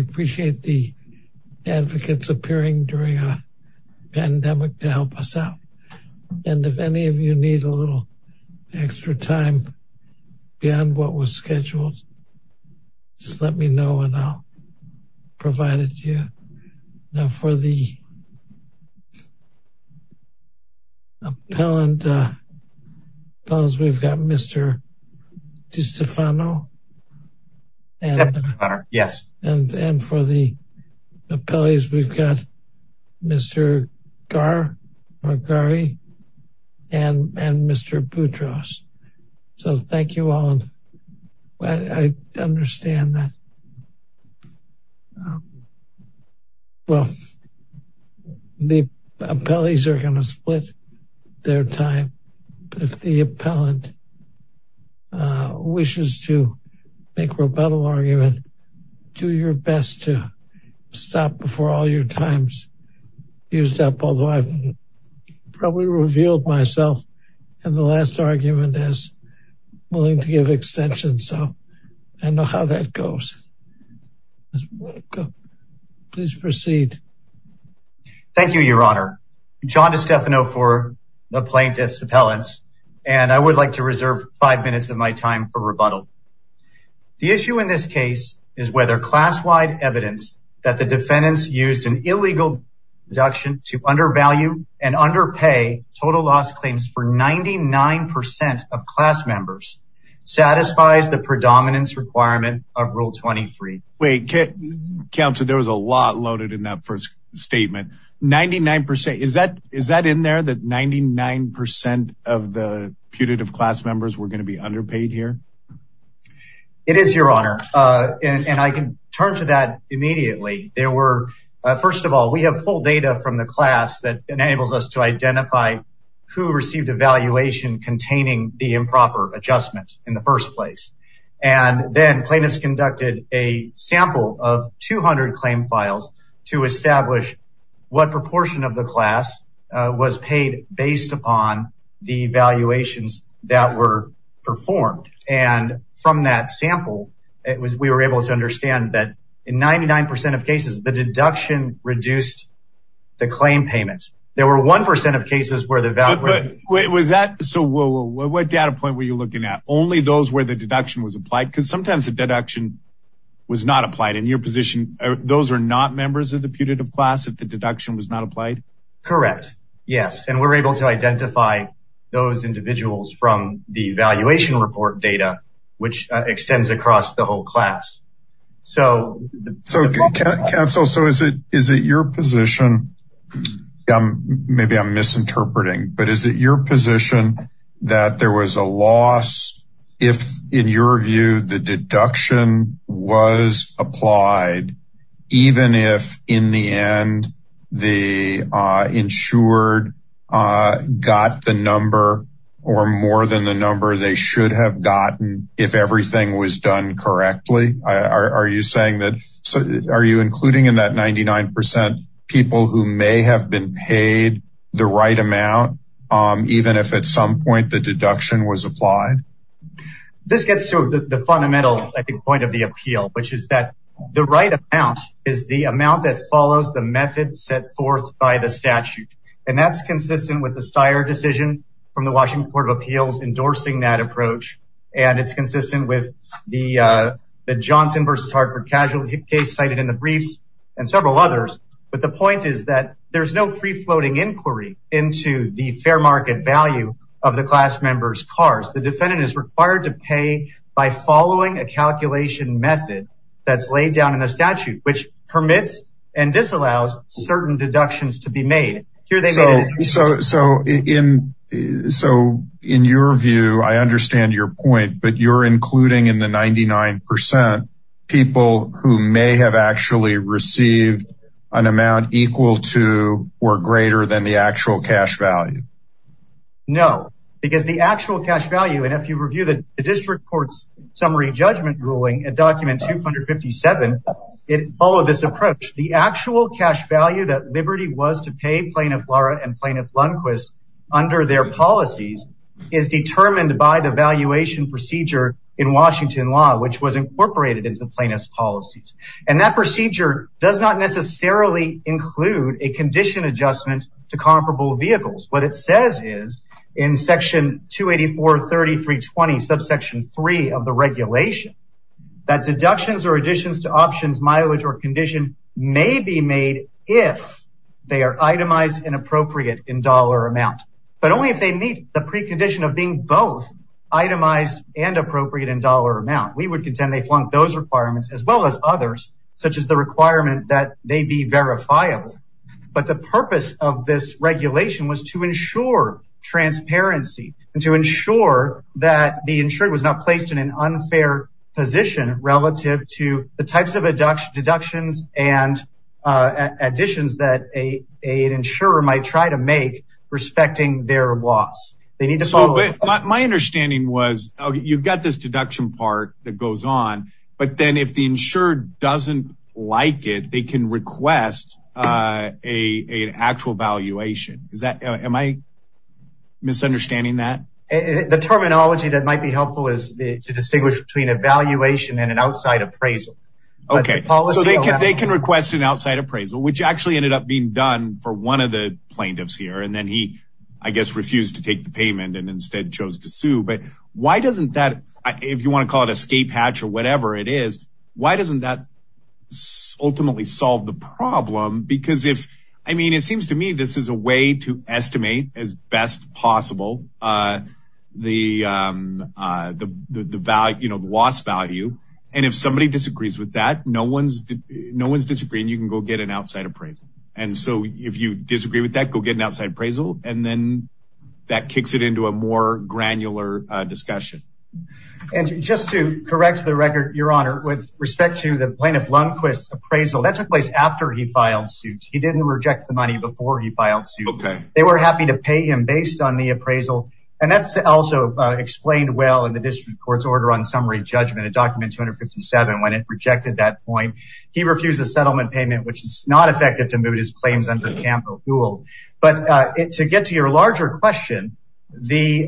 appreciate the advocates appearing during a pandemic to help us out. And if any of you need a little extra time beyond what was scheduled, just let me know and I'll provide it to you. Now for the appellant, we've got Mr. DeStefano and for the appellees we've got Mr. Gar Margari and Mr. Boudros. So thank you all and I understand that the appellees are going to split their time. If the appellant wishes to make a rebuttal argument, do your best to stop before all your time's used up. Although I've probably revealed myself and the last argument is willing to give extension. So I know how that goes. Please proceed. Thank you, Your Honor. John DeStefano for the plaintiff's appellants and I would like to reserve five minutes of my time for rebuttal. The issue in this case is whether class-wide evidence that the defendants used an illegal deduction to undervalue and underpay total loss claims for 99% of class members satisfies the predominance requirement of Rule 23. Wait, Counselor, there was a lot loaded in that first statement. Is that in there that 99% of the putative class members were going to be underpaid here? It is, Your Honor. And I can turn to that immediately. First of all, we have full data from the class that enables us to identify who received a valuation containing the improper adjustment in the first place. And then plaintiffs conducted a sample of 200 claim files to establish what proportion of the class was paid based upon the valuations that were performed. And from that the claim payments. There were 1% of cases where the value... So what data point were you looking at? Only those where the deduction was applied? Because sometimes a deduction was not applied. In your position, those are not members of the putative class if the deduction was not applied? Correct. Yes. And we're able to identify those individuals from the valuation report data, which extends across the whole class. So, Counselor, so is it your position? Maybe I'm misinterpreting, but is it your position that there was a loss if, in your view, the deduction was applied, even if in the end, the insured got the number or more than the number they should have gotten if everything was done correctly? Are you including in that 99% people who may have been paid the right amount, even if at some point the deduction was applied? This gets to the fundamental point of the appeal, which is that the right amount is the amount that follows the method set forth by the statute. And that's consistent with the Steyer decision from the Washington Court of Appeals endorsing that approach. And it's consistent with the Johnson v. Hartford casualty case cited in the briefs and several others. But the point is that there's no free-floating inquiry into the fair market value of the class member's cars. The defendant is required to pay by following a calculation method that's laid down in the statute, which permits and disallows certain deductions to be made. So in your view, I understand your point, but you're including in the 99% people who may have actually received an amount equal to or greater than the actual cash value? No, because the actual cash value, and if you review the district court's summary judgment ruling at document 257, it followed this approach. The actual cash value that Liberty was to pay Plaintiff Laura and Plaintiff Lundquist under their policies is determined by the valuation procedure in Washington law, which was incorporated into the plaintiff's policies. And that procedure does not necessarily include a condition adjustment to comparable vehicles. What it says is in section 284, 3320 subsection three of the regulation, that deductions or additions to options, mileage, or condition may be made if they are itemized and appropriate in dollar amount, but only if they meet the precondition of being both itemized and appropriate in dollar amount, we would contend they flunk those requirements as well as others, such as the requirement that they be verifiable. But the purpose of this regulation was to ensure transparency and to ensure that the insurer was not placed in an unfair position relative to the types of deductions and additions that an insurer might try to make respecting their loss. They need to follow. My understanding was you've got this deduction part that goes on, but then if the insured doesn't like it, they can request an actual valuation. Am I misunderstanding that? The terminology that might be helpful is to distinguish between a valuation and an outside appraisal. Okay, so they can request an outside appraisal, which actually ended up being done for one of the plaintiffs here. And then he, I guess, refused to take the payment and instead chose to sue. But why doesn't that, if you want to call it escape hatch or whatever it is, why doesn't that ultimately solve the problem? Because if, I mean, it seems to me this is a way to estimate as best possible the value, the loss value. And if somebody disagrees with that, no one's disagreeing, you can go get an outside appraisal. And so if you disagree with that, go get an outside appraisal. And then that kicks it into a granular discussion. And just to correct the record, your honor, with respect to the plaintiff Lundquist's appraisal, that took place after he filed suit. He didn't reject the money before he filed suit. They were happy to pay him based on the appraisal. And that's also explained well in the district court's order on summary judgment, a document 257, when it rejected that point, he refused a settlement payment, which is not effective to move his claims under the Campbell school. But to get to your larger question, the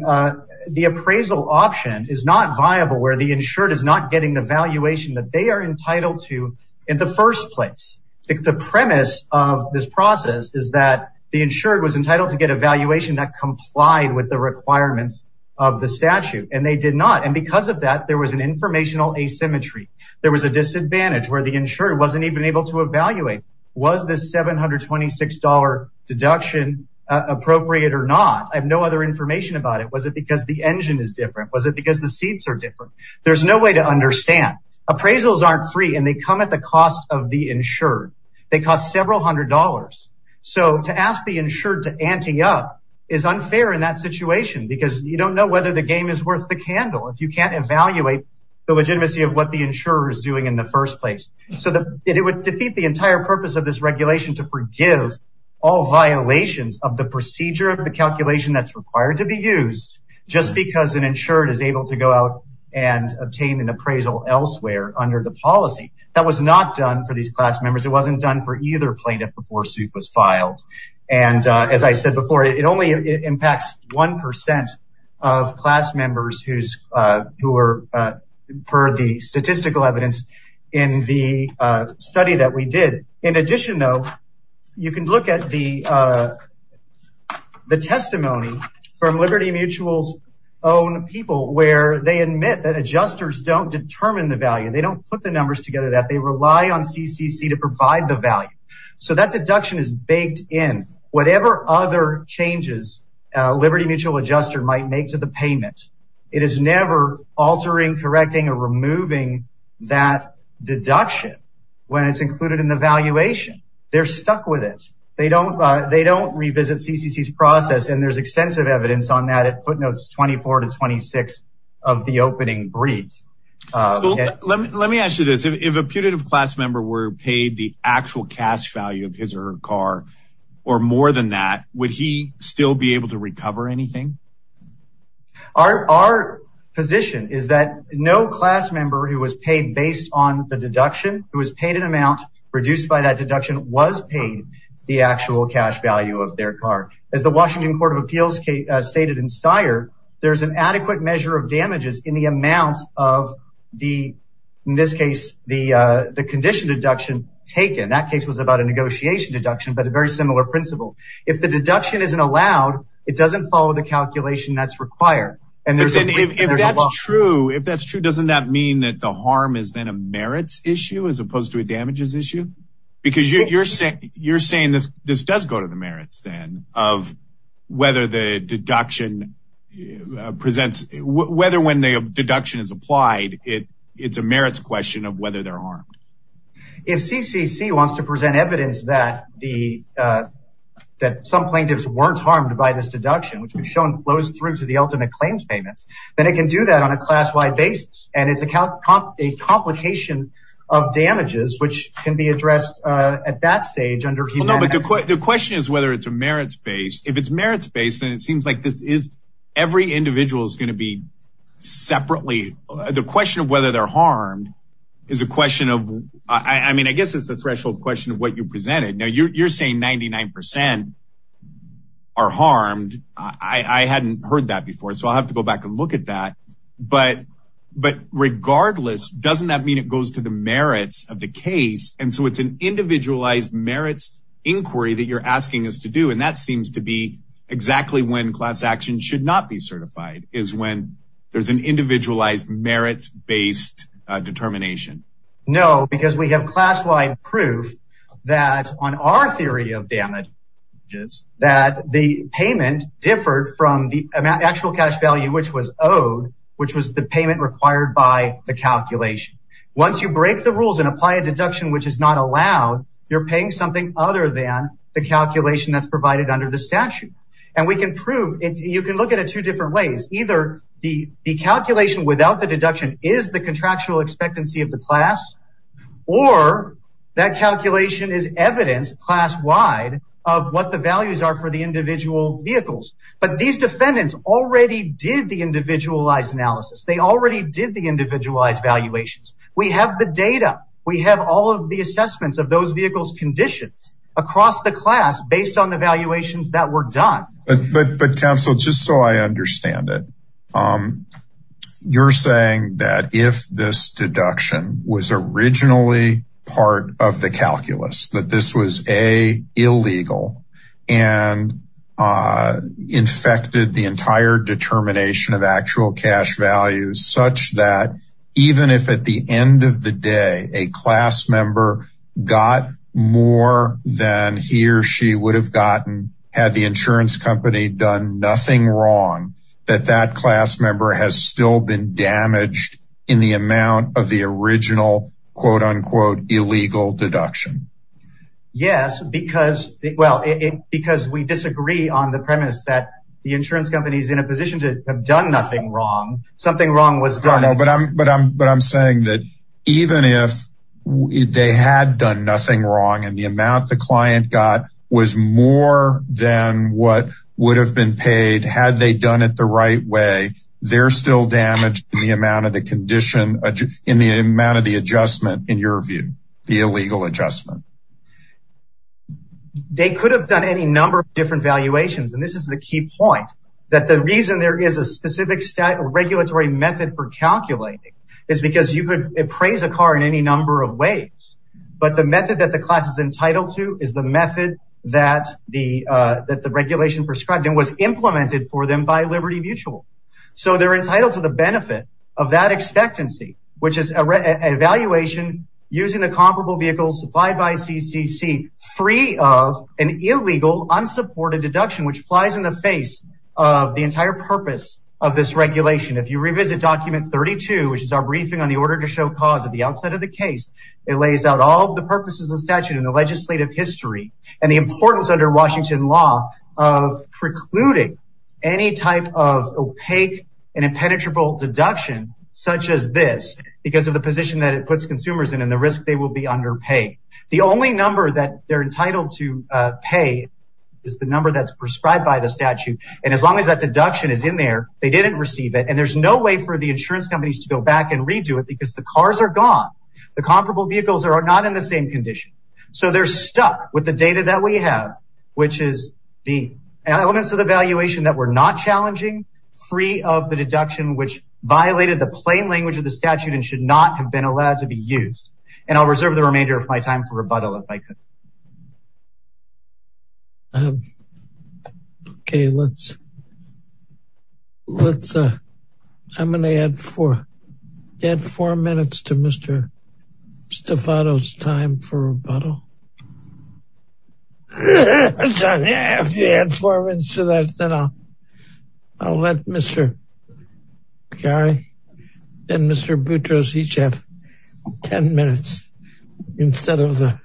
appraisal option is not viable where the insured is not getting the valuation that they are entitled to in the first place. The premise of this process is that the insured was entitled to get a valuation that complied with the requirements of the statute. And they did not. And because of that, there was an informational asymmetry. There was a disadvantage where the insured wasn't even able to evaluate, was this $726 deduction appropriate or not? I have no other information about it. Was it because the engine is different? Was it because the seats are different? There's no way to understand. Appraisals aren't free and they come at the cost of the insured. They cost several hundred dollars. So to ask the insured to ante up is unfair in that situation, because you don't know whether the game is worth the candle. If you can't evaluate the legitimacy of what the insurer is doing in the first place. So it would defeat the entire purpose of this regulation to forgive all violations of the procedure of the calculation that's required to be used just because an insured is able to go out and obtain an appraisal elsewhere under the policy. That was not done for these class members. It wasn't done for either plaintiff before suit was in the study that we did. In addition, though, you can look at the testimony from Liberty Mutual's own people where they admit that adjusters don't determine the value. They don't put the numbers together that they rely on CCC to provide the value. So that deduction is baked in whatever other changes Liberty Mutual adjuster might make to the payment. It is never altering, correcting or removing that deduction when it's included in the valuation. They're stuck with it. They don't they don't revisit CCC's process. And there's extensive evidence on that at footnotes 24 to 26 of the opening brief. Let me let me ask you this. If a putative class member were paid the actual cash value of his or her car or more than that, would he still be able to class member who was paid based on the deduction, who was paid an amount reduced by that deduction, was paid the actual cash value of their car? As the Washington Court of Appeals stated in Steyer, there's an adequate measure of damages in the amount of the in this case, the condition deduction taken. That case was about a negotiation deduction, but a very similar principle. If the deduction isn't allowed, it doesn't follow the calculation that's required. And if that's true, if that's true, doesn't that mean that the harm is then a merits issue as opposed to a damages issue? Because you're saying this does go to the merits then of whether the deduction presents whether when the deduction is applied, it's a merits question of whether they're harmed. If CCC wants to present evidence that the that some plaintiffs weren't harmed by this deduction, which we've shown flows through to the ultimate claims payments, then it can do that on a class wide basis. And it's a complication of damages, which can be addressed at that stage under the question is whether it's a merits based if it's merits based, then it seems like this is every individual is going to be separately. The question of whether they're harmed is a question of I mean, I guess it's the threshold question of what you presented. Now you're saying 99% are harmed. I hadn't heard that before. So I'll have to go back and look at that. But but regardless, doesn't that mean it goes to the merits of the case. And so it's an individualized merits inquiry that you're asking us to do. And that seems to be exactly when class action should not be certified is when there's an individualized merits based determination. No, because we have class wide proof that on our theory of damage, just that the payment differed from the actual cash value, which was owed, which was the payment required by the calculation. Once you break the rules and apply a deduction, which is not allowed, you're paying something other than the calculation that's provided under the statute. And we can prove it, you can look at it two different ways. Either the calculation without the deduction is the contractual expectancy of the class. Or that calculation is evidence class wide of what the values are for the individual vehicles. But these defendants already did the individualized analysis, they already did the individualized valuations, we have the data, we have all of the assessments of those vehicles conditions across the class based on the you're saying that if this deduction was originally part of the calculus that this was a illegal and infected the entire determination of actual cash values such that even if at the end of the day, a class member got more than he or she would have gotten had the insurance company done nothing wrong, that that class member has still been damaged in the amount of the original quote unquote illegal deduction. Yes, because well, it because we disagree on the premise that the insurance companies in a position to have done nothing wrong, something wrong was done. But I'm but I'm but I'm saying that even if they had done nothing wrong, and the amount the client got was more than what would have been paid had they done it the right way, they're still damaged in the amount of the condition in the amount of the adjustment in your view, the illegal adjustment. They could have done any number of different valuations. And this is the key point, that the reason there is a specific stat regulatory method for calculating is because you could appraise a car in any number of ways. But the method that the class is entitled to is the method that the that the regulation prescribed and was implemented for them by Liberty Mutual. So they're entitled to the benefit of that expectancy, which is a valuation using the comparable vehicles supplied by CCC free of an illegal unsupported deduction, which flies in the face of the entire purpose of this regulation. If you revisit document 32, which is our briefing on the order to show cause at the outset of the case, it lays out all the purposes of statute in the legislative history, and the importance under Washington law of precluding any type of opaque and impenetrable deduction, such as this, because of the position that it puts consumers in and the risk they will be underpaid. The only number that they're entitled to pay is the number that's prescribed by the statute. And as long as that deduction is in there, they didn't receive it. There's no way for the insurance companies to go back and redo it because the cars are gone. The comparable vehicles are not in the same condition. So they're stuck with the data that we have, which is the elements of the valuation that were not challenging, free of the deduction, which violated the plain language of the statute and should not have been allowed to be used. And I'll reserve the remainder of my time for rebuttal if I could. Okay, let's, I'm going to add four minutes to Mr. Stefano's time for rebuttal. If you add four minutes to that, then I'll let Mr. Picari and Mr. Boutros each have 10 minutes instead of the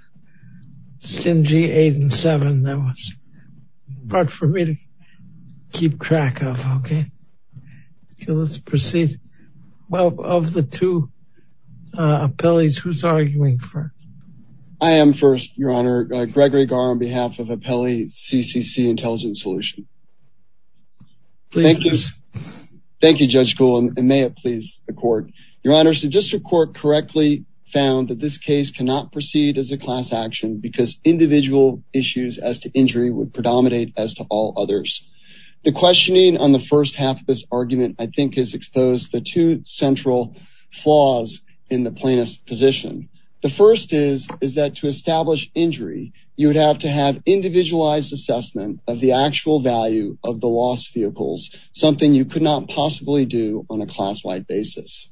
stingy eight and seven that was brought for me to keep track of. Okay. Okay, let's proceed. Well, of the two appellees, who's arguing first? I am first, Your Honor. Gregory Garr on behalf of Appellee CCC Intelligent Solution. Thank you, Judge Gould, and may it please the court. Your Honor, the district court correctly found that this case cannot proceed as a class action because individual issues as to injury would predominate as to all others. The questioning on the first half of this argument, I think, has exposed the two central flaws in the plaintiff's position. The first is that to establish injury, you would have to have individualized assessment of the actual value of the lost vehicles, something you could not possibly do on a class-wide basis.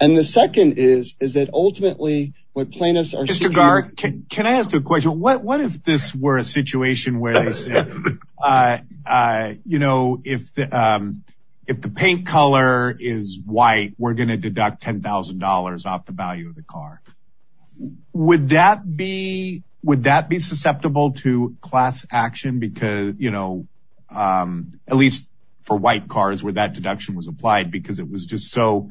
And the second is, is that ultimately what plaintiffs are... Mr. Garr, can I ask you a question? What if this were a situation where they said, you know, if the, if the paint color is white, we're going to deduct $10,000 off the value of the car. Would that be, would that be susceptible to class action because, you know, at least for white cars where that deduction was applied, because it was just so,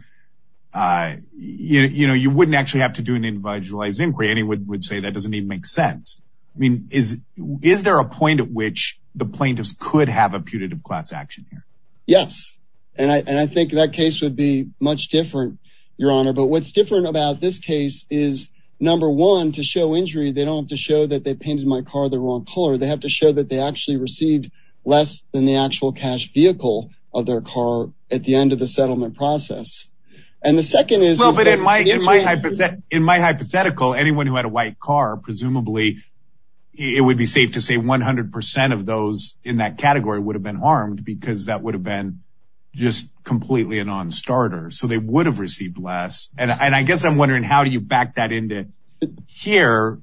you know, you wouldn't actually have to do an individualized inquiry. Anyone would say that doesn't even make sense. I mean, is, is there a point at which the plaintiffs could have a putative class action here? Yes, and I, and I think that case would be much different, Your Honor, but what's different about this case is, number one, to show injury, they don't have to show that they painted my car the wrong color. They have to show that they actually received less than the actual cash vehicle of their car at the end of the settlement process. And the second is... Well, but in my, in my, in my hypothetical, anyone who had a white car, presumably it would be safe to say 100% of those in that category would have been harmed because that would have been just completely a non-starter. So they would have received less. And I guess I'm wondering how do you back that into here,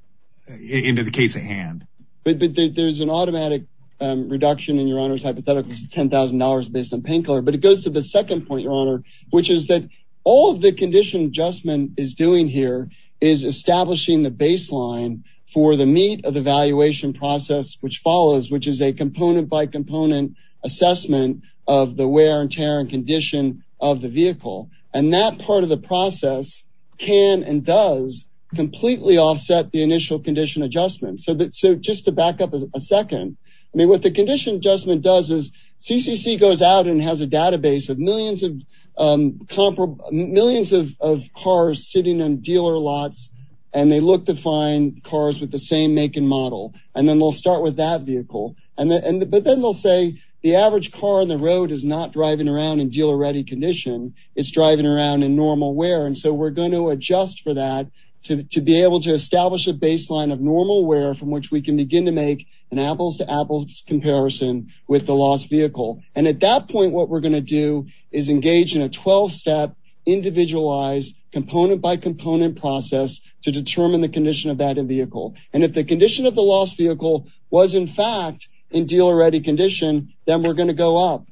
into the case at hand? But there's an automatic reduction in Your Honor's hypothetical to $10,000 based on paint color. But it goes to the second point, Your Honor, which is that all of the condition adjustment is doing here is establishing the baseline for the meat of the valuation process, which follows, which is a component by component assessment of the wear and tear and condition of the vehicle. And that part of the process can and does completely offset the initial condition adjustments. So that, so just to back up a second, I mean, what the condition adjustment does is CCC goes out and has a database of millions of comparable, millions of cars sitting on dealer lots, and they look to find cars with the same make and model. And then we'll start with that vehicle. And then, but then they'll say the average car on the road is not driving around in dealer ready condition. It's driving around in normal wear. And so we're going to adjust for that to be able to establish a baseline of normal wear from which we can begin to make an apples to apples comparison with the lost vehicle. And at that point, what we're going to do is engage in a 12-step individualized component by component process to determine the condition of that vehicle. And if the condition of the lost vehicle was in fact in dealer ready condition, then we're going to go up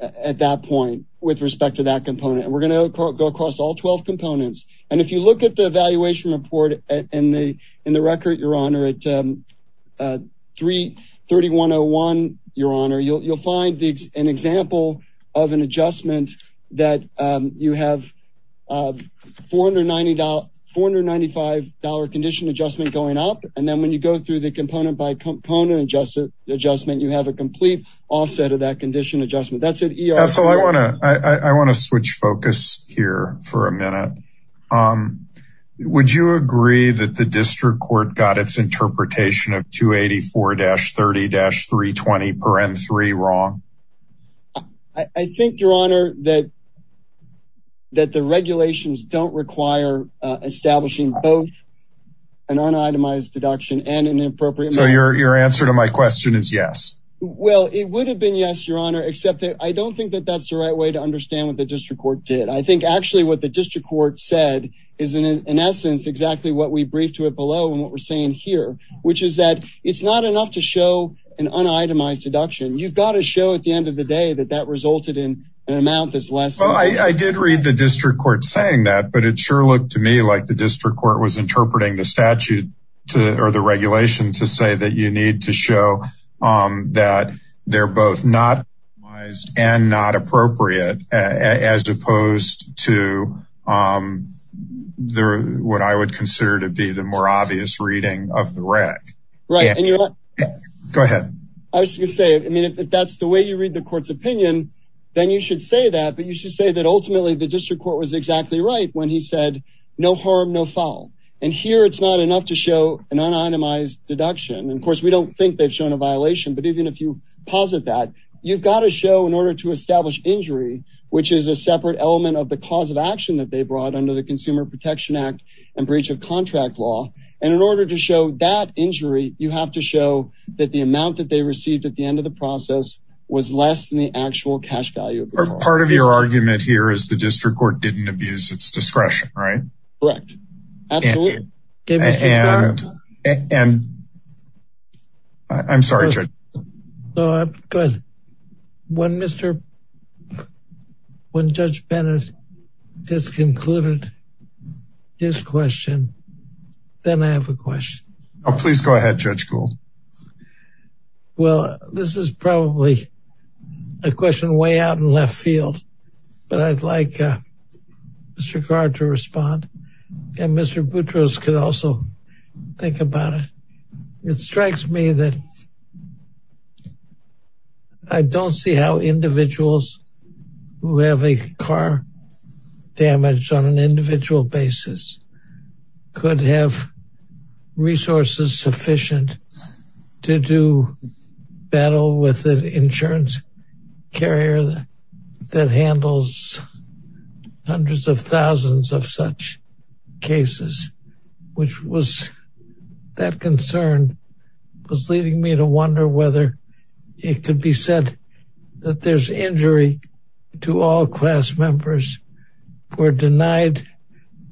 at that point with respect to that component. And we're going to go across all 12 components. And if you look at the evaluation report and the, in the record, your honor, at 33101, your honor, you'll, you'll find the, an example of an adjustment that you have $490, $495 condition adjustment going up. And then when you go through the component by component adjusted adjustment, you have a complete offset of that condition adjustment. That's all I want to, I want to switch focus here for a minute. Would you agree that the district court got its interpretation of 284-30-320 per M3 wrong? I think your honor that, that the regulations don't require establishing both an itemized deduction and an appropriate. So your, your answer to my question is yes. Well, it would have been yes, your honor, except that I don't think that that's the right way to understand what the district court did. I think actually what the district court said is in essence, exactly what we briefed to it below and what we're saying here, which is that it's not enough to show an itemized deduction. You've got to show at the end of the day that that resulted in an amount that's less. Well, I did read the district court saying that, but it sure looked to me like the district court was interpreting the statute to or the regulation to say that you need to show that they're both not itemized and not appropriate as opposed to what I would consider to be the more obvious reading of the rec. Go ahead. I was going to say, I mean, if that's the way you read the court's opinion, then you should say that, but you should say that ultimately the district court was exactly right when he said no harm, no foul. And here it's not enough to show an un-itemized deduction. Of course, we don't think they've shown a violation, but even if you posit that you've got to show in order to establish injury, which is a separate element of the cause of action that they brought under the consumer protection act and breach of contract law. And in order to show that injury, you have to show that the amount that they received at the end of the process was less than the actual cash value. Part of your argument here is the district court didn't abuse its discretion, right? Correct. Absolutely. And I'm sorry, Judge. No, I'm good. When Judge Bennett just concluded his question, then I have a question. Oh, please go ahead, Judge Gould. Well, this is probably a question way out in left field, but I'd like Mr. Carr to respond and Mr. Boutros could also think about it. It strikes me that I don't see how individuals who have a car damaged on an individual basis could have resources sufficient to do battle with an insurance carrier that handles hundreds of thousands of such cases, which was that concern was leading me to wonder whether it could be said that there's injury to all class members who are denied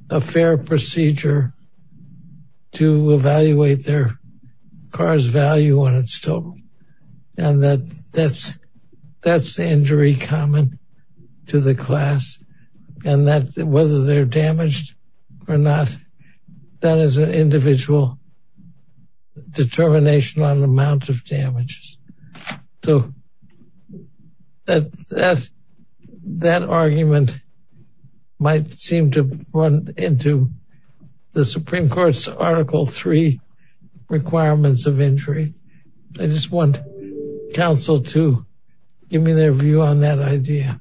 a fair procedure to evaluate their car's value on its total. And that that's the injury common to the class and that whether they're damaged or not, that is an individual determination on the amount of Supreme Court's Article III requirements of injury. I just want counsel to give me their view on that idea.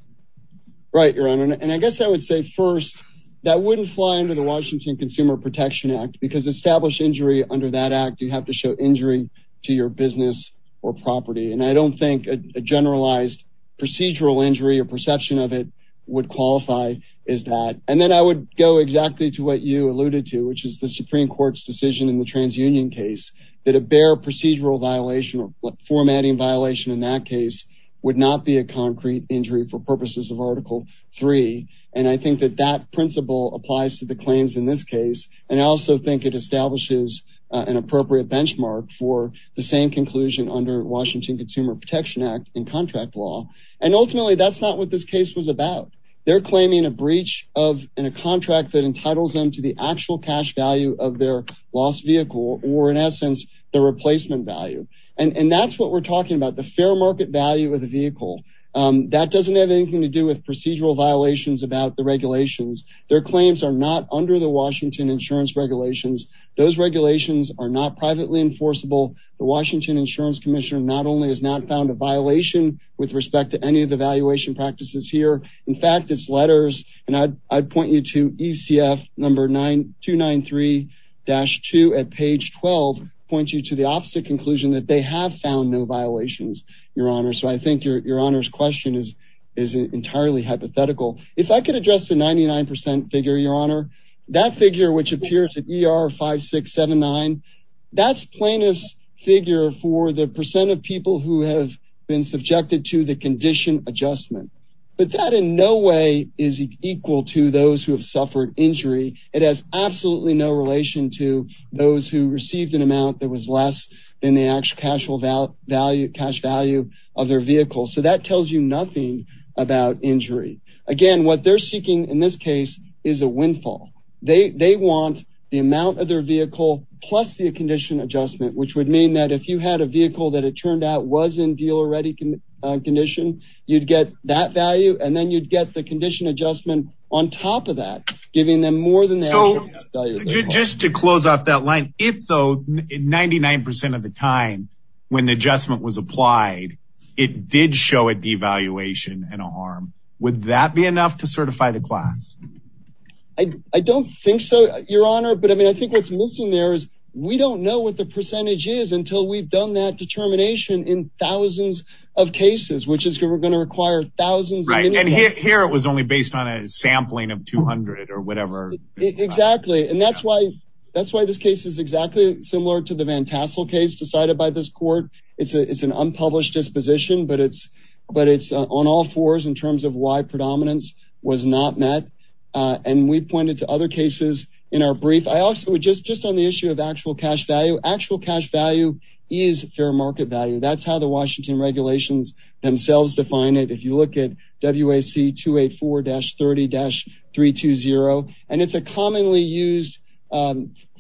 Right, Your Honor. And I guess I would say first, that wouldn't fly into the Washington Consumer Protection Act because established injury under that act, you have to show injury to your business or property. And I don't think a generalized procedural injury or perception of it would qualify as that. And then I would go exactly to what you alluded to, which is the Supreme Court's decision in the transunion case that a bare procedural violation or formatting violation in that case would not be a concrete injury for purposes of Article III. And I think that that principle applies to the claims in this case. And I also think it establishes an appropriate benchmark for the same conclusion under Washington Consumer Protection Act and contract law. And ultimately, that's not what this case was about. They're claiming a breach of a contract that entitles them to the actual cash value of their lost vehicle or in essence, the replacement value. And that's what we're talking about, the fair market value of the vehicle. That doesn't have anything to do with procedural violations about the regulations. Their claims are not under the Washington insurance regulations. Those regulations are not privately enforceable. The Washington Insurance Commissioner not only has not found a violation with respect to any of the valuation practices here, in fact, it's letters. And I'd point you to ECF number 293-2 at page 12, point you to the opposite conclusion that they have found no violations, Your Honor. So I think Your Honor's question is entirely hypothetical. If I could address the 99% figure, Your Honor, that figure, which appears at ER 5679, that's plaintiff's figure for the percent of people who have been subjected to the condition adjustment. But that in no way is equal to those who have suffered injury. It has absolutely no relation to those who received an amount that was less than the actual cash value of their vehicle. So that tells you nothing about injury. Again, what they're seeking in this case is a windfall. They want the amount of their vehicle plus the condition adjustment, which would mean that if you had a vehicle that it turned out was in dealer-ready condition, you'd get that value. And then you'd get the condition adjustment on top of that, giving them more than that. So just to close off that line, if though, 99% of the time when the adjustment was applied, it did show a devaluation and a harm, would that be enough to certify the class? I don't think so, Your Honor. But I mean, I think what's missing there is we don't know what the percentage is until we've done that determination in thousands of cases, which is going to require thousands. Right. And here it was only based on a sampling of 200 or whatever. Exactly. And that's why that's why this case is exactly similar to the Van Tassel case decided by this court. It's an unpublished disposition, but it's on all fours in terms of why predominance was not met. And we pointed to other cases in our brief. Just on the issue of actual cash value, actual cash value is fair market value. That's how the Washington regulations themselves define it. If you look at WAC 284-30-320, and it's a commonly used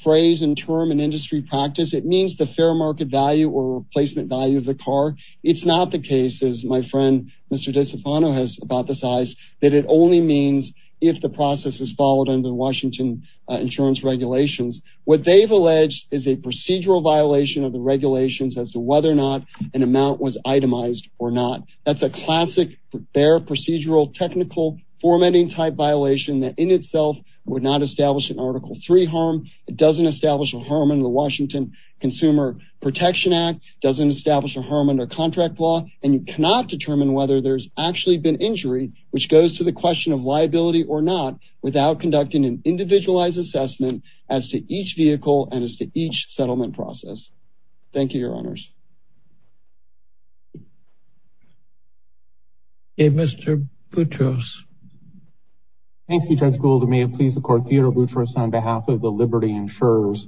phrase and term in industry practice, it means the fair market value or replacement value of the car. It's not the case, as my friend Mr. DeCifano has hypothesized, that it only means if the process is followed under Washington insurance regulations. What they've alleged is a procedural violation of the regulations as to whether or not an amount was itemized or not. That's a classic, bare procedural, technical formatting type violation that in itself would not establish an Article 3 harm. It doesn't establish a harm under the Washington Consumer Protection Act, doesn't establish a harm under contract law, and you cannot determine whether there's actually been injury, which goes to the question of liability or not, without conducting an individualized assessment as to each vehicle and as to each settlement process. Thank you, your honors. Okay, Mr. Boutros. Thank you, Judge Gould. May it please the court, Theodore Boutros on behalf of Liberty Insurers.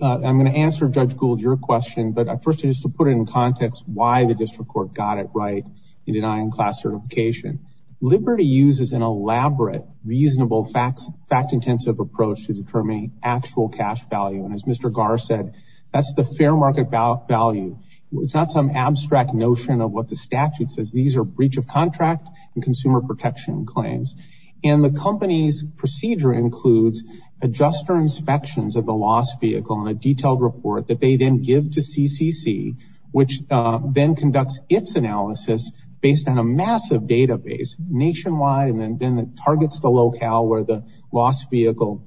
I'm going to answer, Judge Gould, your question, but first just to put it in context why the district court got it right in denying class certification. Liberty uses an elaborate, reasonable, fact-intensive approach to determining actual cash value, and as Mr. Garr said, that's the fair market value. It's not some abstract notion of what the statute says. These are breach of contract and consumer protection claims, and the company's procedure includes adjuster inspections of the lost vehicle in a detailed report that they then give to CCC, which then conducts its analysis based on a massive database nationwide, and then targets the locale where the lost vehicle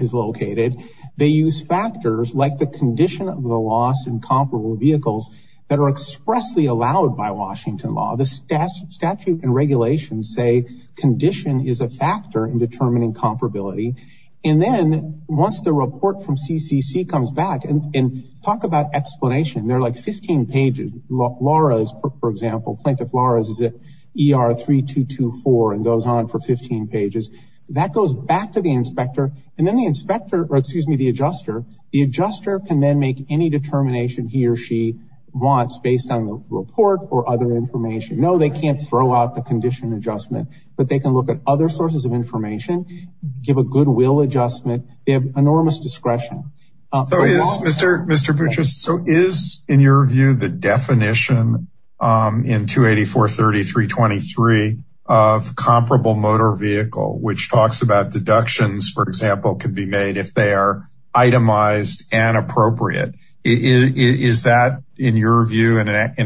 is located. They use factors like the condition of the loss in comparable vehicles that are expressly allowed by Washington law. The statute and regulations say condition is a factor in determining comparability, and then once the report from CCC comes back, and talk about explanation, they're like 15 pages. Laura's, for example, Plaintiff Laura's is at ER 3224 and goes on for 15 pages. That goes back to the inspector, and then the inspector, or excuse me, the adjuster, the adjuster can then make any determination he or she wants based on the report or other information. No, they can't throw out the condition adjustment, but they can look at other sources of information, give a goodwill adjustment. They have enormous discretion. So is, Mr. Putras, so is, in your view, the definition in 2843323 of comparable motor vehicle, which talks about deductions, for example, could be made if they are itemized and appropriate. Is that, in your view, and part, is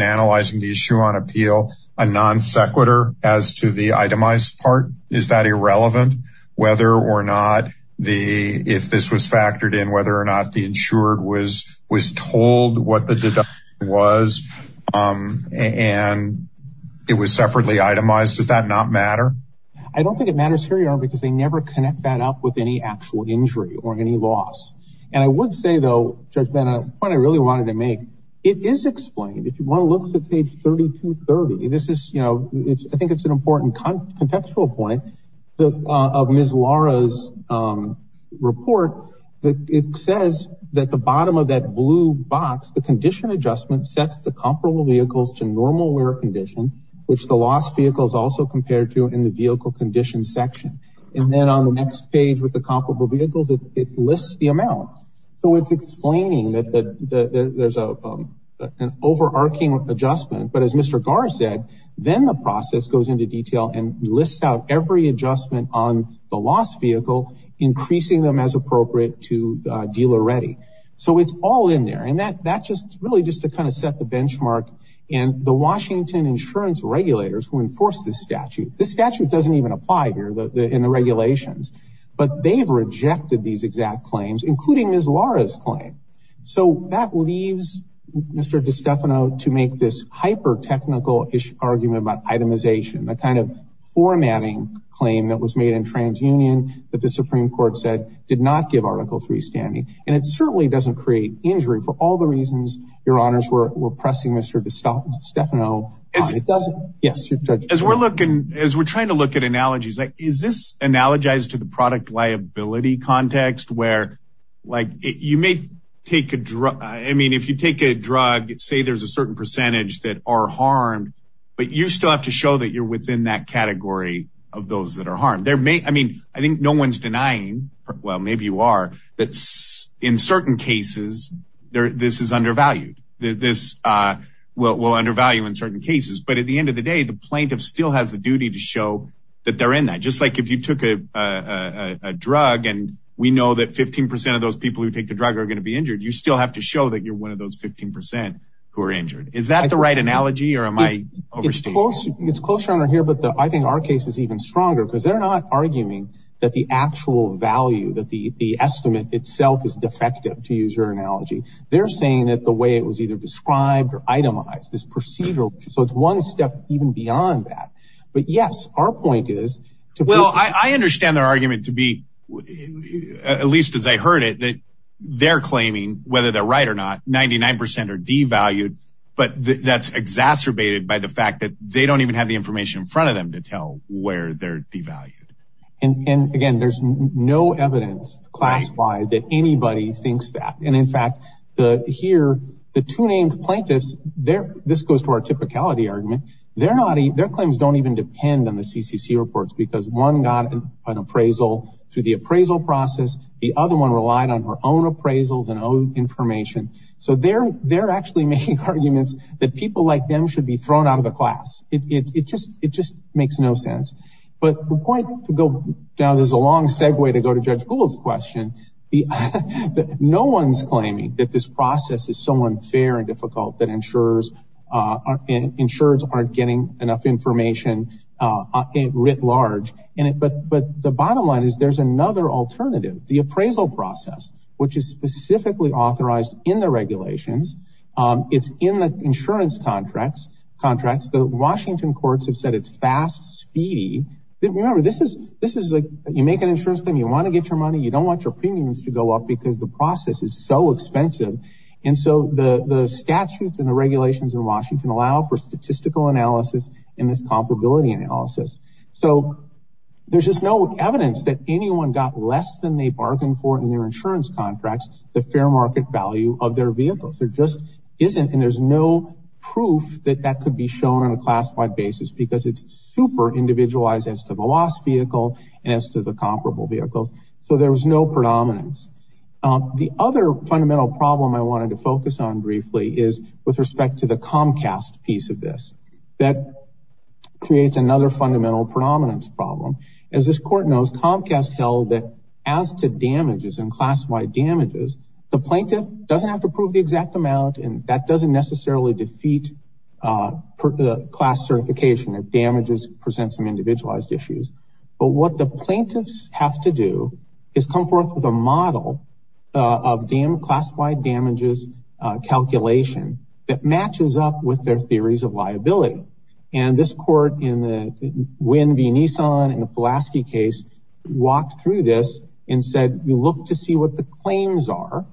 that irrelevant? Whether or not the, if this was factored in, whether or not the insured was told what the deduction was, and it was separately itemized, does that not matter? I don't think it matters here, Your Honor, because they never connect that up with any actual injury or any loss. And I would say, though, Judge Bennett, what I really wanted to make, it is explained. If you want to look at page 3230, this is, you know, I think it's an important contextual point of Ms. Lara's report. It says that the bottom of that blue box, the condition adjustment sets the comparable vehicles to normal wear condition, which the lost vehicle is also compared to in the vehicle condition section. And then on the next page with comparable vehicles, it lists the amount. So it's explaining that there's an overarching adjustment. But as Mr. Gar said, then the process goes into detail and lists out every adjustment on the lost vehicle, increasing them as appropriate to dealer ready. So it's all in there. And that just really just to kind of set the benchmark. And the Washington insurance regulators who have rejected these exact claims, including Ms. Lara's claim. So that leaves Mr. DeStefano to make this hyper technical argument about itemization, the kind of formatting claim that was made in TransUnion that the Supreme Court said did not give Article 3 standing. And it certainly doesn't create injury for all the reasons Your Honors were pressing Mr. DeStefano. As we're looking, as we're trying to look at analogies, is this analogized to the product liability context where like you may take a drug. I mean, if you take a drug, say there's a certain percentage that are harmed, but you still have to show that you're within that category of those that are harmed. I mean, I think no one's denying. Well, maybe you are. But in certain cases, this is undervalued. This will undervalue in certain cases. But at the end of the day, the plaintiff still has the duty to show that they're in that. Just like if you took a drug, and we know that 15% of those people who take the drug are going to be injured, you still have to show that you're one of those 15% who are injured. Is that the right analogy? Or am I overstating? It's closer on here. But I think our case is even stronger, because they're not arguing that the actual value, that the estimate itself is defective, to use your analogy. They're saying that the way it was either described or itemized, this procedural, so it's one step even beyond that. But yes, our point is to- Well, I understand their argument to be, at least as I heard it, that they're claiming, whether they're right or not, 99% are devalued. But that's exacerbated by the fact that they don't even have the information in front of them to tell where they're devalued. And again, there's no evidence classified that anybody thinks that. And in fact, here, the two named plaintiffs, this goes to our typicality argument, their claims don't even depend on the CCC reports, because one got an appraisal through the appraisal process, the other one relied on her own appraisals and own information. So they're actually making arguments that people like them should be thrown out of the class. It just makes no sense. But the point to go, now there's a long segue to go to Judge Gould's question, the- No one's claiming that this process is so unfair and difficult that insurers aren't getting enough information writ large. But the bottom line is there's another alternative, the appraisal process, which is specifically authorized in the regulations. It's in the insurance contracts. The Washington courts have said it's fast, speedy. Remember, this is like, you make an insurance claim, you want to get your money, you don't want your premiums to go up because the process is so expensive. And so the statutes and the regulations in Washington allow for statistical analysis and this comparability analysis. So there's just no evidence that anyone got less than they bargained for in their insurance contracts, the fair market value of their vehicles. There just isn't. And there's no proof that that could be shown on a classified basis because it's super individualized as to the lost vehicle and as to the comparable vehicles. So there was no predominance. The other fundamental problem I wanted to focus on briefly is with respect to the Comcast piece of this. That creates another fundamental predominance problem. As this court knows, Comcast held that as to damages and class-wide damages, the plaintiff doesn't have to prove the exact amount and that doesn't necessarily defeat class certification if damages present some individualized issues. But what the plaintiffs have to do is come forth with a model of class-wide damages calculation that matches up with their theories of liability. And this court in the Winn v. Nissan and the Pulaski case walked through this and said, we look to see what the claims are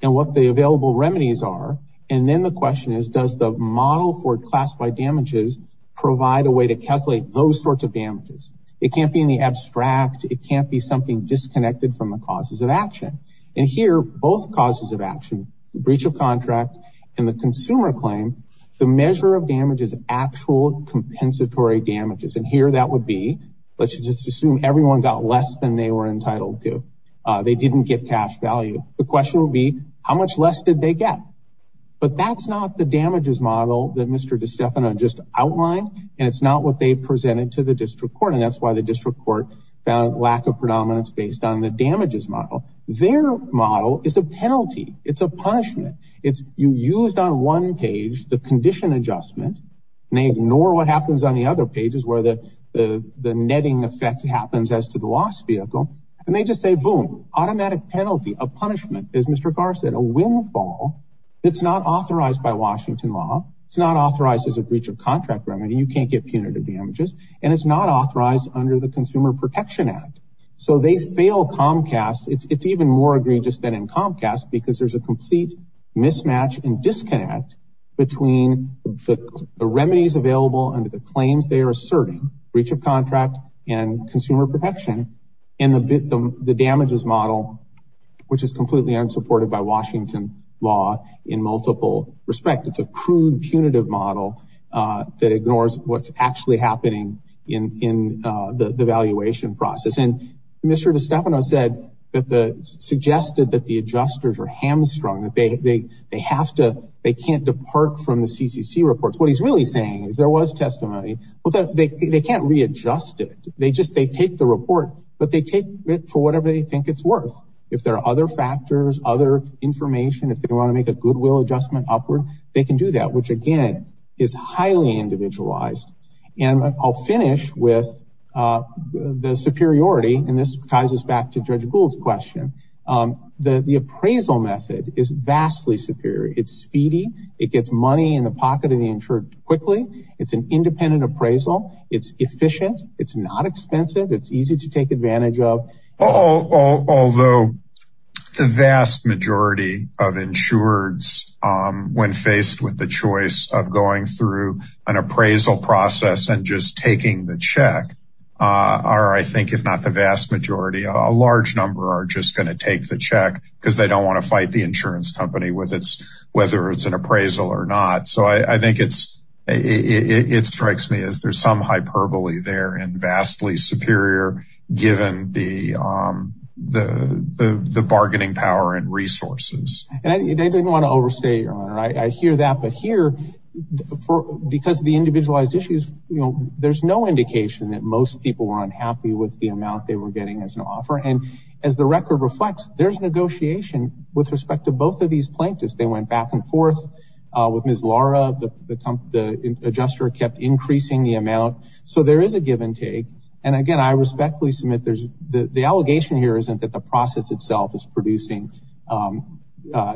and what the available remedies are. And then the question is, does the model for classified damages provide a way to calculate those sorts of damages? It can't be any abstract. It can't be something disconnected from the causes of action. And here, both causes of action, the breach of contract and the consumer claim, the measure of damage is actual compensatory damages. And here that would be, let's just assume everyone got less than they were entitled to. They didn't get cash value. The question would be, how much less did they get? But that's not the damages model that Mr. DiStefano just outlined. And it's not what they presented to the district court. And that's why the district court found lack of predominance based on the damages model. Their model is a penalty. It's a punishment. It's, you used on one page, the condition adjustment, and they ignore what happens on the other pages where the netting effect happens as to the loss vehicle. And they just say, boom, automatic penalty, a punishment, as Mr. Carr said, a windfall. It's not authorized by Washington law. It's not authorized as a breach of contract remedy. You can't get punitive damages. And it's not authorized under the Consumer Protection Act. So they fail Comcast. It's even more egregious than in Comcast because there's a complete mismatch and disconnect between the remedies available and the claims they are asserting, breach of contract and consumer protection, and the damages model, which is completely unsupported by Washington law in multiple respects. It's a crude, punitive model that ignores what's actually happening in the valuation process. And Mr. DiStefano suggested that the adjusters are hamstrung, that they can't depart from the CCC reports. What he's really saying is there was testimony, but they can't readjust it. They take the report, but they take it for whatever they think it's worth. If there are other factors, other information, if they want to make a goodwill adjustment upward, they can do that, which again is highly individualized. And I'll finish with the superiority. And this ties us back to Judge Gould's question. The appraisal method is vastly superior. It's speedy. It gets money in the pocket of the insured quickly. It's an independent appraisal. It's efficient. It's not expensive. It's easy to take advantage of. Although the vast majority of insureds, when faced with the choice of going through an appraisal process and just taking the check, are I think, if not the vast majority, a large number are just going to take the check because they don't want to fight the it strikes me as there's some hyperbole there and vastly superior given the bargaining power and resources. And I didn't want to overstay your honor. I hear that. But here, because of the individualized issues, there's no indication that most people were unhappy with the amount they were getting as an offer. And as the record reflects, there's negotiation with respect to both of these the adjuster kept increasing the amount. So there is a give and take. And again, I respectfully submit there's the allegation here isn't that the process itself is producing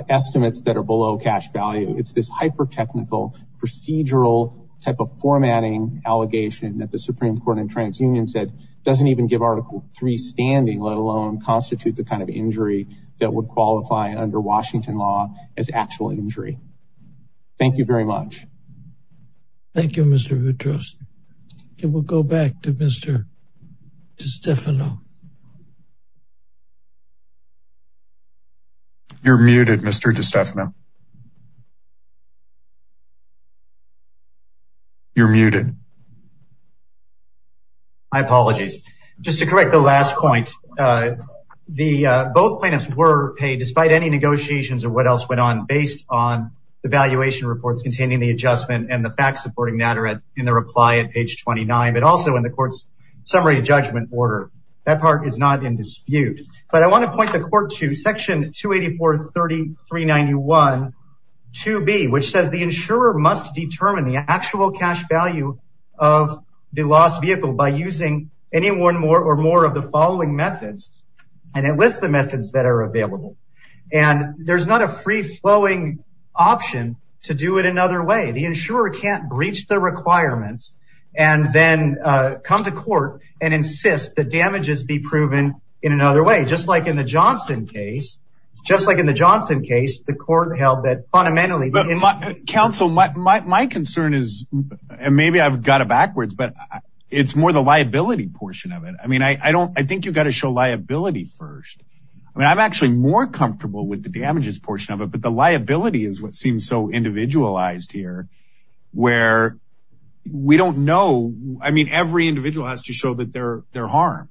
estimates that are below cash value. It's this hyper technical procedural type of formatting allegation that the Supreme Court in TransUnion said doesn't even give Article 3 standing, let alone constitute the kind of injury that would qualify under Washington law as actual injury. Thank you very much. Thank you, Mr. Vitros. We'll go back to Mr. DiStefano. You're muted, Mr. DiStefano. You're muted. My apologies. Just to correct the last point. The both plaintiffs were paid despite any evaluation reports containing the adjustment and the facts supporting that are in the reply at page 29, but also in the court's summary judgment order. That part is not in dispute. But I want to point the court to section 284-3391-2b, which says the insurer must determine the actual cash value of the lost vehicle by using any one more or more of the following methods. And it lists the methods that are available. And there's not a free flowing option to do it another way. The insurer can't breach the requirements and then come to court and insist that damages be proven in another way, just like in the Johnson case. Just like in the Johnson case, the court held that fundamentally. Counsel, my concern is, and maybe I've got it backwards, but it's more the liability portion of it. I mean, I don't, I think you've got to show liability first. I mean, I'm actually more comfortable with the damages portion of it, but the liability is what seems so individualized here, where we don't know. I mean, every individual has to show that they're harmed.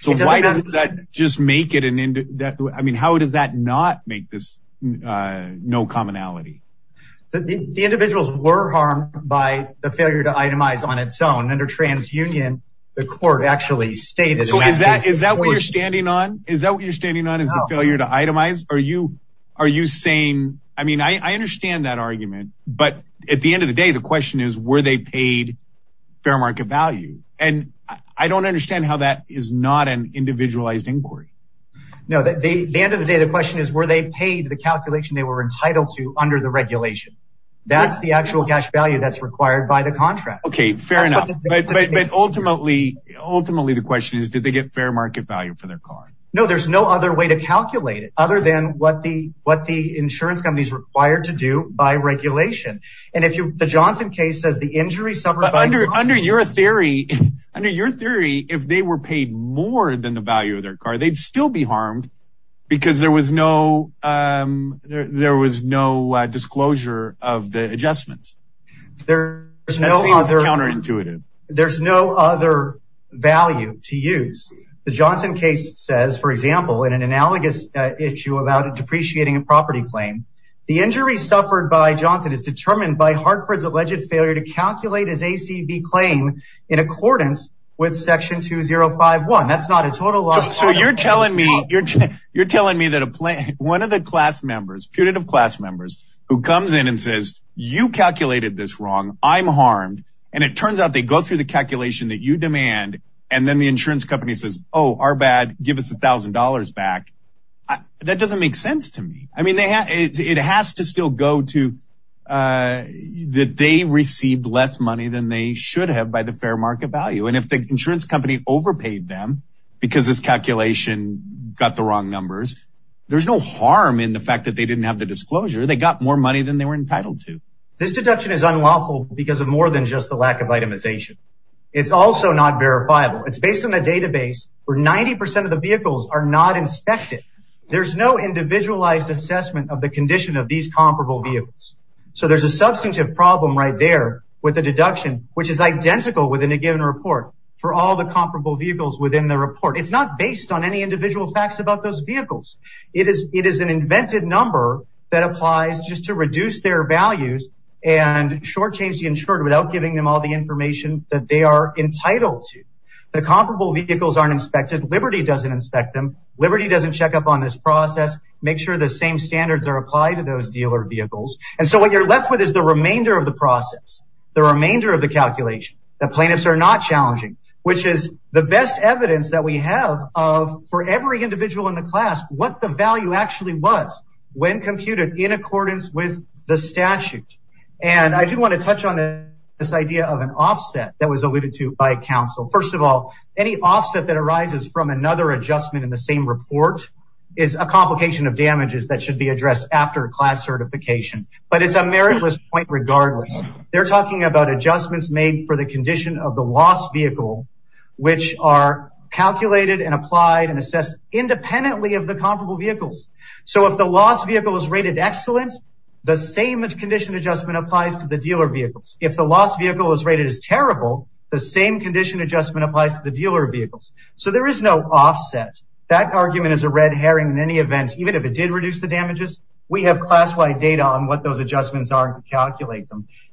So why doesn't that just make it an, I mean, how does that not make this no transunion? The court actually stated, is that what you're standing on? Is that what you're standing on is the failure to itemize? Are you saying, I mean, I understand that argument, but at the end of the day, the question is, were they paid fair market value? And I don't understand how that is not an individualized inquiry. No, the end of the day, the question is, were they paid the calculation they were entitled to under the regulation? That's the ultimately, ultimately, the question is, did they get fair market value for their car? No, there's no other way to calculate it other than what the, what the insurance companies required to do by regulation. And if you, the Johnson case says the injury suffered under, under your theory, under your theory, if they were paid more than the value of their car, they'd still be harmed. Because there was no, there was no disclosure of the adjustments. There is no other counterintuitive, there's no other value to use. The Johnson case says, for example, in an analogous issue about depreciating a property claim, the injury suffered by Johnson is determined by Hartford's alleged failure to calculate his ACB claim in accordance with section 2051. That's not a total loss. So you're telling me you're, you're telling me that a plan, one of the class members, putative class members who comes in and says, you calculated this wrong, I'm harmed. And it turns out they go through the calculation that you demand. And then the insurance company says, oh, our bad, give us $1,000 back. That doesn't make sense to me. I mean, they have, it has to still go to that they received less money than they should have by the fair market value. And if the insurance company overpaid them, because this calculation got the wrong numbers, there's no harm in the fact that they didn't have the disclosure. They got more money than they were entitled to. This deduction is unlawful because of more than just the lack of itemization. It's also not verifiable. It's based on a database where 90% of the vehicles are not inspected. There's no individualized assessment of the condition of these comparable vehicles. So there's a substantive problem right there with a deduction, which is identical within a given report for all the comparable vehicles within the report. It's not based on any individual facts about those vehicles. It is, it is an invented number that applies just to reduce their values and shortchange the insured without giving them all the information that they are entitled to. The comparable vehicles aren't inspected. Liberty doesn't inspect them. Liberty doesn't check up on this process, make sure the same standards are applied to those dealer vehicles. And so what you're left with is the remainder of the process, the remainder of the calculation that plaintiffs are not challenging, which is the best evidence that we have of, for every individual in the class, what the value actually was when computed in accordance with the statute. And I do want to touch on this idea of an offset that was alluded to by counsel. First of all, any offset that arises from another adjustment in the same report is a complication of damages that should be addressed after class certification, but it's a meritless point regardless. They're talking about adjustments made for the condition of the lost vehicle, which are calculated and applied and assessed independently of the comparable vehicles. So if the lost vehicle is rated excellent, the same condition adjustment applies to the dealer vehicles. If the lost vehicle is rated as terrible, the same condition adjustment applies to the dealer vehicles. So there is no offset. That argument is a red herring in any event, even if it did reduce the damages, we have class-wide data on what those adjustments are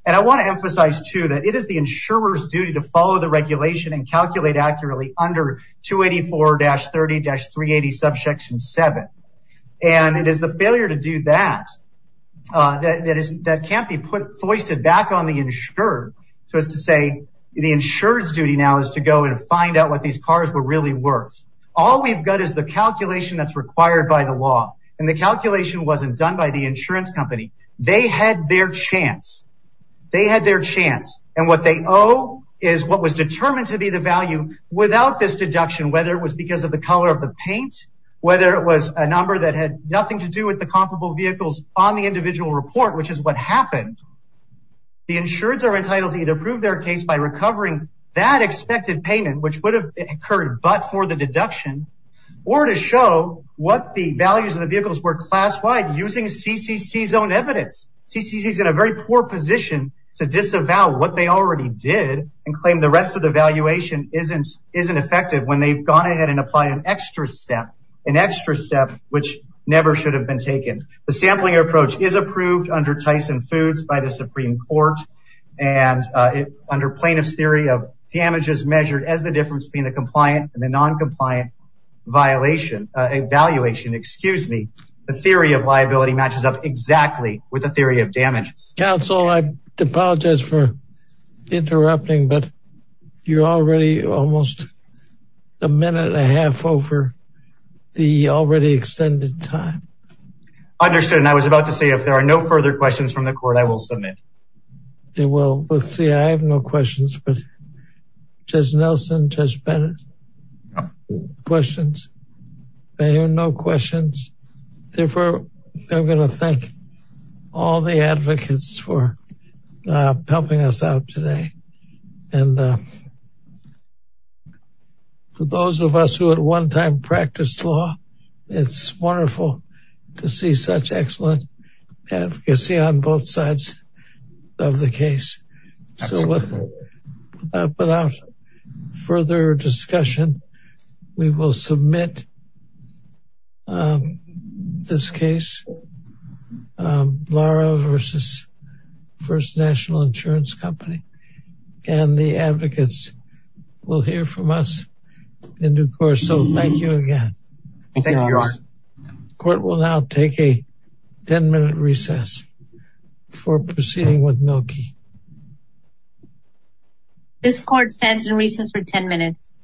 and I want to emphasize too that it is the insurer's duty to follow the regulation and calculate accurately under 284-30-380 subsection 7. And it is the failure to do that, that can't be foisted back on the insured. So as to say the insurer's duty now is to go and find out what these cars were really worth. All we've got is the calculation that's required by the law and the calculation wasn't done by the insurance company. They had their chance. They had their chance and what they owe is what was determined to be the value without this deduction, whether it was because of the color of the paint, whether it was a number that had nothing to do with the comparable vehicles on the individual report, which is what happened. The insureds are entitled to either prove their case by recovering that expected payment, which would have occurred, but for the deduction, or to show what the values of the vehicles were class-wide using CCC's own evidence. CCC is in a very poor position to disavow what they already did and claim the rest of the valuation isn't effective when they've gone ahead and applied an extra step, an extra step which never should have been taken. The sampling approach is approved under Tyson Foods by the Supreme Court and under plaintiff's theory of damages measured as the compliant and the non-compliant evaluation, the theory of liability matches up exactly with the theory of damages. Counsel, I apologize for interrupting, but you're already almost a minute and a half over the already extended time. Understood. And I was about to say, if there are no further questions from the court, I will submit. They will. Let's see, I have no questions, but Judge Nelson, Judge Bennett, questions? There are no questions. Therefore, I'm going to thank all the advocates for helping us out today. And for those of us who at one time practiced law, it's wonderful to see such excellent advocacy on both sides of the case. Without further discussion, we will submit this case, Lara versus First National Insurance Company, and the advocates will hear from us in due course. So thank you again. Court will now take a 10-minute recess before proceeding with Milky. This court stands in recess for 10 minutes.